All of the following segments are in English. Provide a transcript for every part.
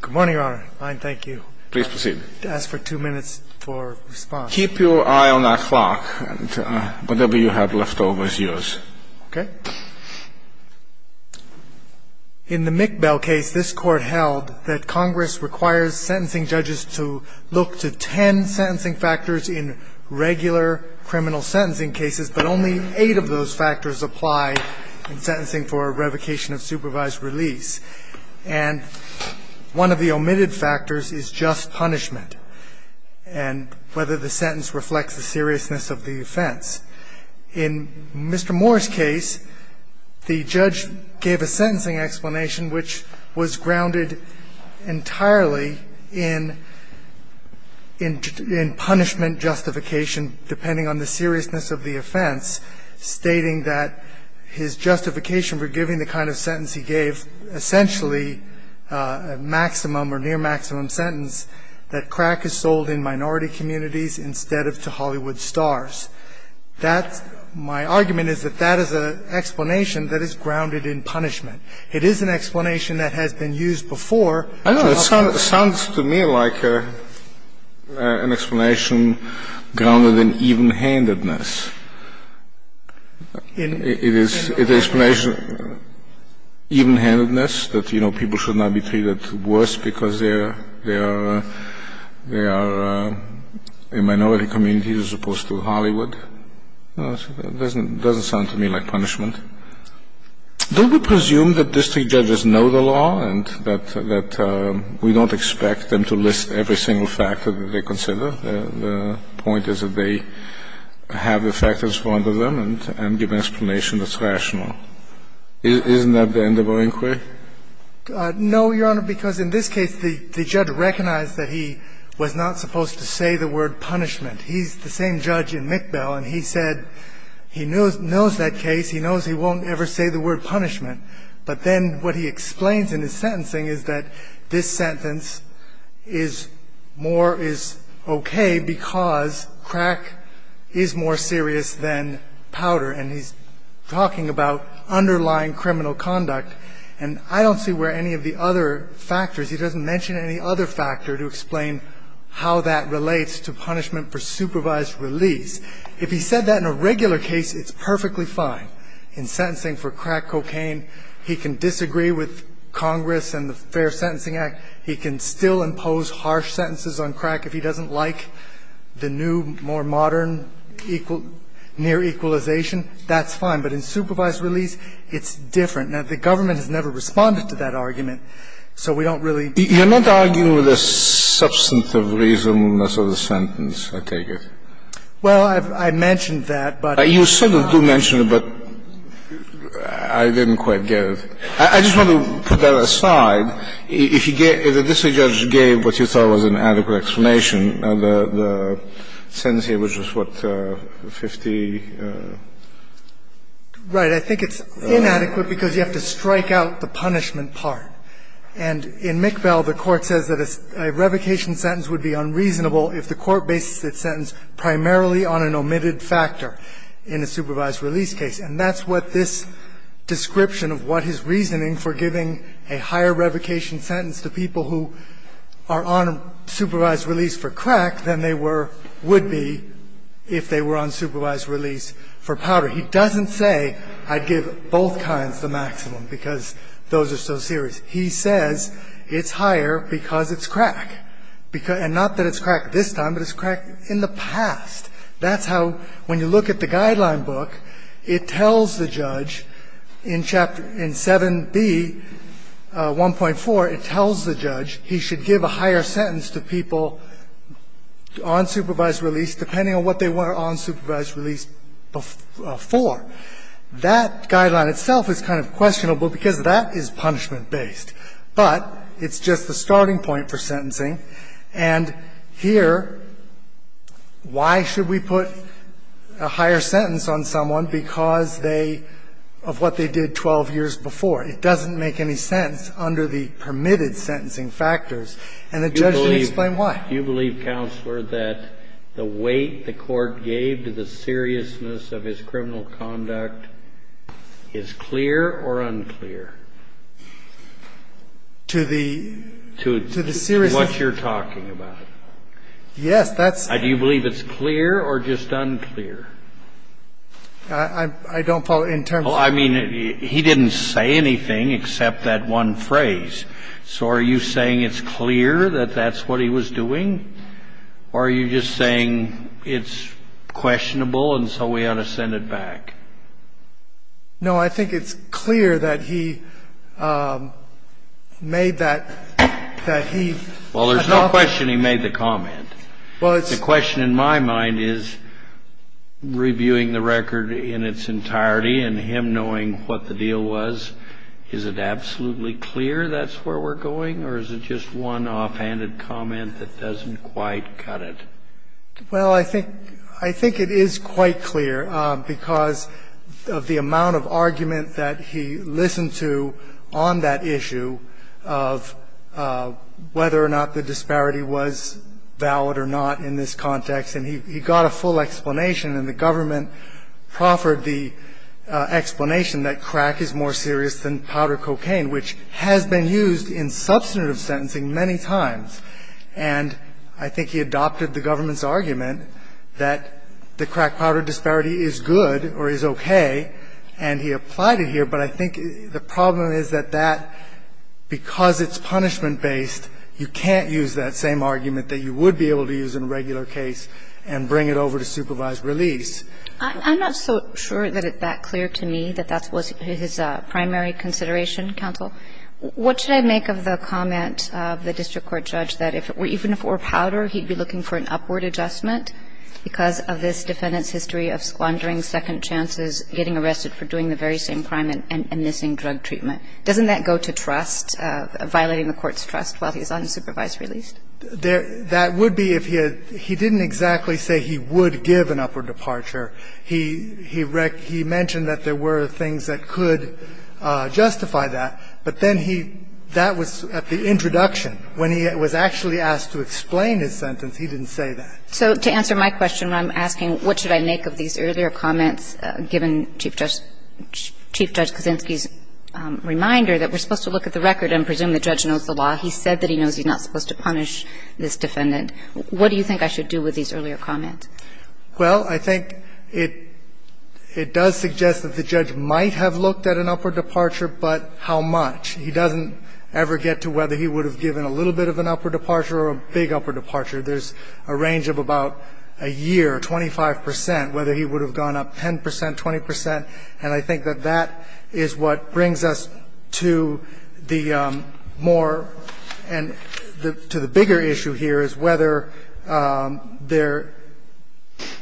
Good morning, Your Honor. I thank you. Please proceed. I ask for two minutes for response. Keep your eye on that clock. Whatever you have left over is yours. Okay. In the McBell case, this Court held that Congress requires sentencing judges to look to ten sentencing factors in regular criminal sentencing cases, but only eight of those factors apply in sentencing for revocation of supervised release. And one of the omitted factors is just punishment and whether the sentence reflects the seriousness of the offense. In Mr. Moore's case, the judge gave a sentencing explanation which was grounded entirely in punishment justification, depending on the seriousness of the offense, stating that his justification for giving the kind of sentence he gave, essentially a maximum or near maximum sentence, that crack is sold in minority communities instead of to Hollywood stars. That's my argument, is that that is an explanation that is grounded in punishment. It is an explanation that has been used before. I don't know. It sounds to me like an explanation grounded in evenhandedness. It is an explanation, evenhandedness, that, you know, people should not be treated worse because they are in minority communities as opposed to Hollywood. It doesn't sound to me like punishment. Don't we presume that district judges know the law and that we don't expect them to list every single factor that they consider? The point is that they have the factors for one of them and give an explanation that's rational. Isn't that the end of our inquiry? No, Your Honor, because in this case the judge recognized that he was not supposed to say the word punishment. He's the same judge in McBell, and he said he knows that case. He knows he won't ever say the word punishment. But then what he explains in his sentencing is that this sentence is more is okay because crack is more serious than powder, and he's talking about underlying criminal conduct, and I don't see where any of the other factors, he doesn't mention any other factor to explain how that relates to punishment for supervised release. If he said that in a regular case, it's perfectly fine. In sentencing for crack cocaine, he can disagree with Congress and the Fair Sentencing Act. He can still impose harsh sentences on crack if he doesn't like the new, more modern, near equalization, that's fine. But in supervised release, it's different. Now, the government has never responded to that argument, so we don't really ---- You're not arguing with the substantive reasonness of the sentence, I take it? Well, I mentioned that, but ---- You sort of do mention it, but I didn't quite get it. I just want to put that aside. If the district judge gave what you thought was an adequate explanation, the sentence here was just, what, 50 ---- Right. I think it's inadequate because you have to strike out the punishment part. And in McBell, the Court says that a revocation sentence would be unreasonable if the Court bases its sentence primarily on an omitted factor in a supervised release case. And that's what this description of what his reasoning for giving a higher revocation sentence to people who are on supervised release for crack than they were ---- would be if they were on supervised release for powder. He doesn't say, I'd give both kinds the maximum because those are so serious. He says it's higher because it's crack, and not that it's crack this time, but it's crack in the past. That's how, when you look at the guideline book, it tells the judge in Chapter 7B, 1.4, it tells the judge he should give a higher sentence to people on supervised release depending on what they were on supervised release for. That guideline itself is kind of questionable because that is punishment-based. But it's just the starting point for sentencing. And here, why should we put a higher sentence on someone because they, of what they did 12 years before? It doesn't make any sense under the permitted sentencing factors. And the judge didn't explain why. Kennedy, you believe, Counselor, that the weight the Court gave to the seriousness of his criminal conduct is clear or unclear? To the ---- To what you're talking about. Yes, that's ---- Do you believe it's clear or just unclear? I don't follow. Well, I mean, he didn't say anything except that one phrase. So are you saying it's clear that that's what he was doing? Or are you just saying it's questionable and so we ought to send it back? No, I think it's clear that he made that, that he ---- Well, there's no question he made the comment. Well, it's ---- The question in my mind is, reviewing the record in its entirety and him knowing what the deal was, is it absolutely clear that's where we're going, or is it just one offhanded comment that doesn't quite cut it? Well, I think it is quite clear because of the amount of argument that he listened to on that issue of whether or not the disparity was valid or not in this context. And he got a full explanation, and the government proffered the explanation that crack is more serious than powder cocaine, which has been used in substantive sentencing many times. And I think he adopted the government's argument that the crack powder disparity is good or is okay, and he applied it here. But I think the problem is that that, because it's punishment based, you can't use that same argument that you would be able to use in a regular case and bring it over to supervised release. I'm not so sure that it's that clear to me that that was his primary consideration, counsel. What should I make of the comment of the district court judge that if it were, even if it were powder, he'd be looking for an upward adjustment because of this defendant's doing the very same crime and missing drug treatment. Doesn't that go to trust, violating the court's trust while he's unsupervised released? That would be if he had – he didn't exactly say he would give an upward departure. He mentioned that there were things that could justify that, but then he – that was at the introduction. When he was actually asked to explain his sentence, he didn't say that. So to answer my question, I'm asking what should I make of these earlier comments given Chief Judge – Chief Judge Kaczynski's reminder that we're supposed to look at the record and presume the judge knows the law. He said that he knows he's not supposed to punish this defendant. What do you think I should do with these earlier comments? Well, I think it – it does suggest that the judge might have looked at an upward departure, but how much? He doesn't ever get to whether he would have given a little bit of an upward departure or a big upward departure. There's a range of about a year, 25 percent, whether he would have gone up 10 percent, 20 percent, and I think that that is what brings us to the more – and to the bigger issue here is whether there –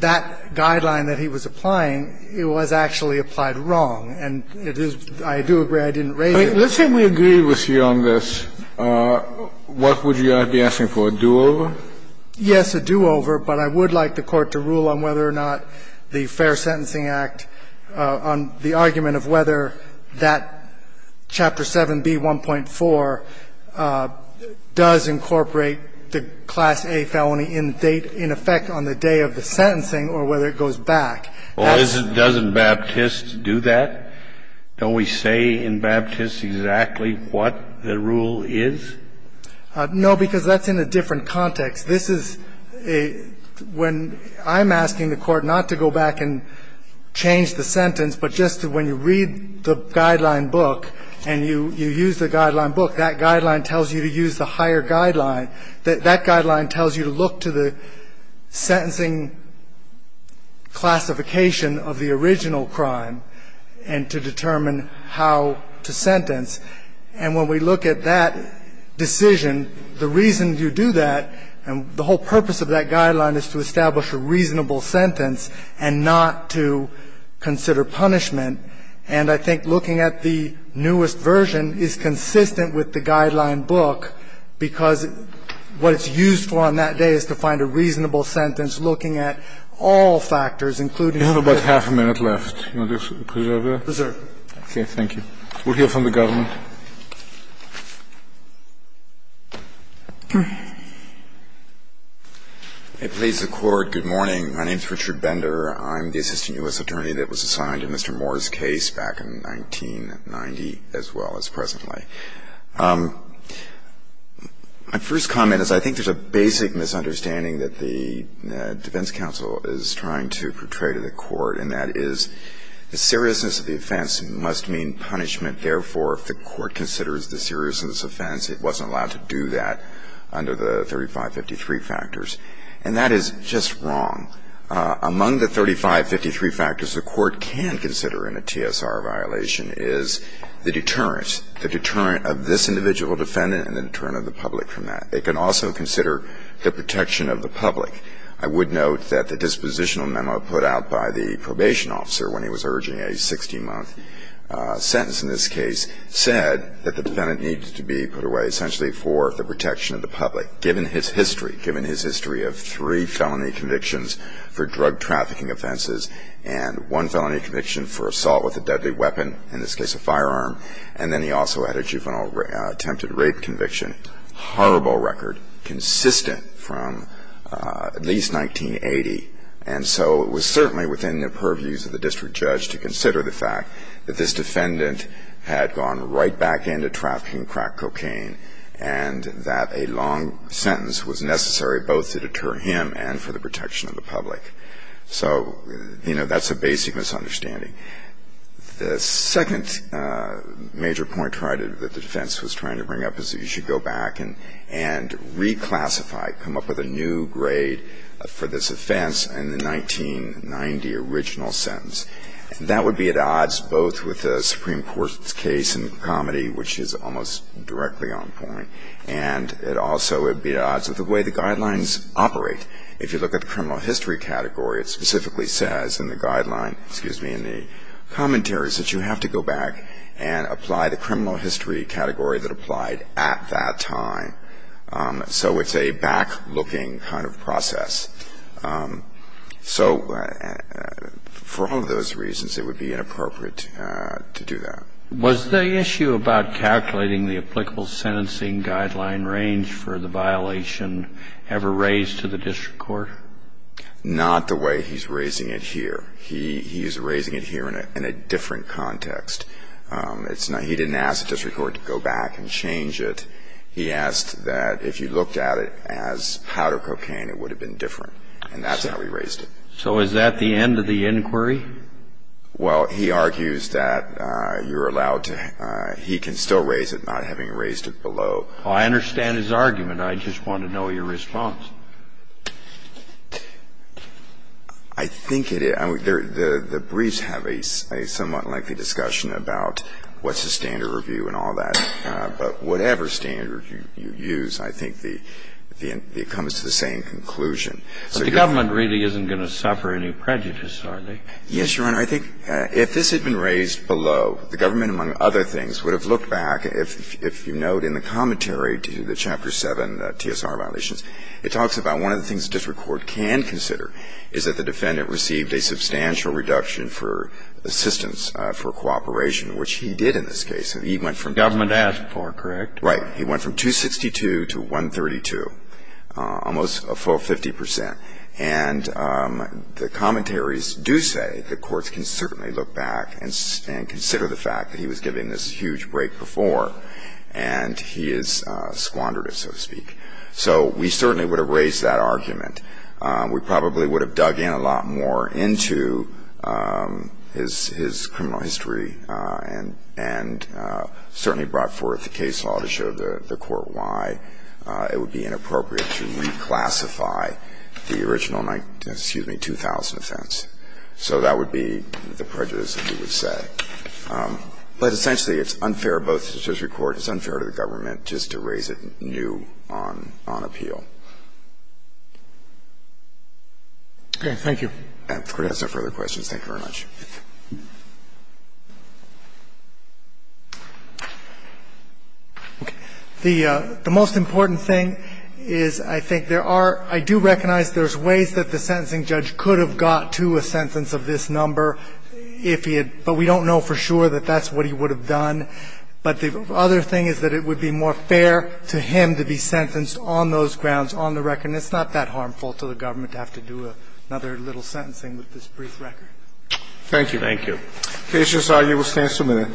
that guideline that he was applying, it was actually applied wrong, and it is – I do agree I didn't raise it. Let's say we agree with you on this. What would you be asking for, a do-over? Yes, a do-over, but I would like the Court to rule on whether or not the Fair Sentencing Act, on the argument of whether that Chapter 7B1.4 does incorporate the Class A felony in effect on the day of the sentencing or whether it goes back. Well, isn't – doesn't Baptiste do that? Don't we say in Baptiste exactly what the rule is? No, because that's in a different context. This is a – when I'm asking the Court not to go back and change the sentence, but just when you read the guideline book and you use the guideline book, that guideline tells you to use the higher guideline, that that guideline tells you to look to the sentencing classification of the original crime and to determine how to sentence. And when we look at that decision, the reason you do that and the whole purpose of that guideline is to establish a reasonable sentence and not to consider punishment. And I think looking at the newest version is consistent with the guideline book, because what it's used for on that day is to find a reasonable sentence looking at all factors, including the – You have about half a minute left. You want to preserve that? Preserve. Thank you. We'll hear from the government. Please, the Court. Good morning. My name is Richard Bender. I'm the assistant U.S. attorney that was assigned to Mr. Moore's case back in 1990 as well as presently. My first comment is I think there's a basic misunderstanding that the defense counsel is trying to portray to the Court, and that is the seriousness of the offense must mean punishment. Therefore, if the Court considers the seriousness of the offense, it wasn't allowed to do that under the 3553 factors. And that is just wrong. Among the 3553 factors the Court can consider in a TSR violation is the deterrence, the deterrent of this individual defendant and the deterrent of the public from that. They can also consider the protection of the public. I would note that the dispositional memo put out by the probation officer when he was sentenced in this case said that the defendant needed to be put away essentially for the protection of the public, given his history, given his history of three felony convictions for drug trafficking offenses and one felony conviction for assault with a deadly weapon, in this case a firearm, and then he also had a juvenile attempted rape conviction. Horrible record, consistent from at least 1980. And so it was certainly within the purviews of the district judge to consider the fact that this defendant had gone right back into trafficking crack cocaine and that a long sentence was necessary both to deter him and for the protection of the public. So, you know, that's a basic misunderstanding. The second major point that the defense was trying to bring up is that you should go back and reclassify, come up with a new grade for this offense in the 1990 original sentence. That would be at odds both with the Supreme Court's case in Comedy, which is almost directly on point, and it also would be at odds with the way the guidelines operate. If you look at the criminal history category, it specifically says in the guideline ‑‑ excuse me, in the commentaries that you have to go back and apply the criminal history category that applied at that time. So it's a back-looking kind of process. So for all of those reasons, it would be inappropriate to do that. Was the issue about calculating the applicable sentencing guideline range for the violation ever raised to the district court? Not the way he's raising it here. He is raising it here in a different context. He didn't ask the district court to go back and change it. He asked that if you looked at it as powder cocaine, it would have been different. And that's how he raised it. So is that the end of the inquiry? Well, he argues that you're allowed to ‑‑ he can still raise it, not having raised it below. I understand his argument. I just want to know your response. I think it is. The briefs have a somewhat lengthy discussion about what's the standard review and all that. But whatever standard you use, I think it comes to the same conclusion. But the government really isn't going to suffer any prejudice, are they? Yes, Your Honor. I think if this had been raised below, the government, among other things, would have looked back, if you note in the commentary to the Chapter 7 TSR violations, it talks about one of the things the district court can consider is that the defendant received a substantial reduction for assistance for cooperation, which he did in this case. He went from ‑‑ Government asked for it, correct? Right. He went from 262 to 132, almost a full 50 percent. And the commentaries do say the courts can certainly look back and consider the fact that he was given this huge break before, and he has squandered it, so to speak. So we certainly would have raised that argument. We probably would have dug in a lot more into his criminal history and certainly brought forth the case law to show the court why it would be inappropriate to reclassify the original 2,000 offense. So that would be the prejudice that we would say. But essentially it's unfair both to the district court, it's unfair to the government just to raise it new on appeal. Okay. Thank you. If the Court has no further questions, thank you very much. Okay. The most important thing is I think there are ‑‑ I do recognize there's ways that the sentencing judge could have got to a sentence of this number if he had ‑‑ but we don't know for sure that that's what he would have done. But the other thing is that it would be more fair to him to be sentenced on those grounds, on the record. And it's not that harmful to the government to have to do another little sentencing with this brief record. Thank you. Thank you. The case is argued. We'll stand for a minute.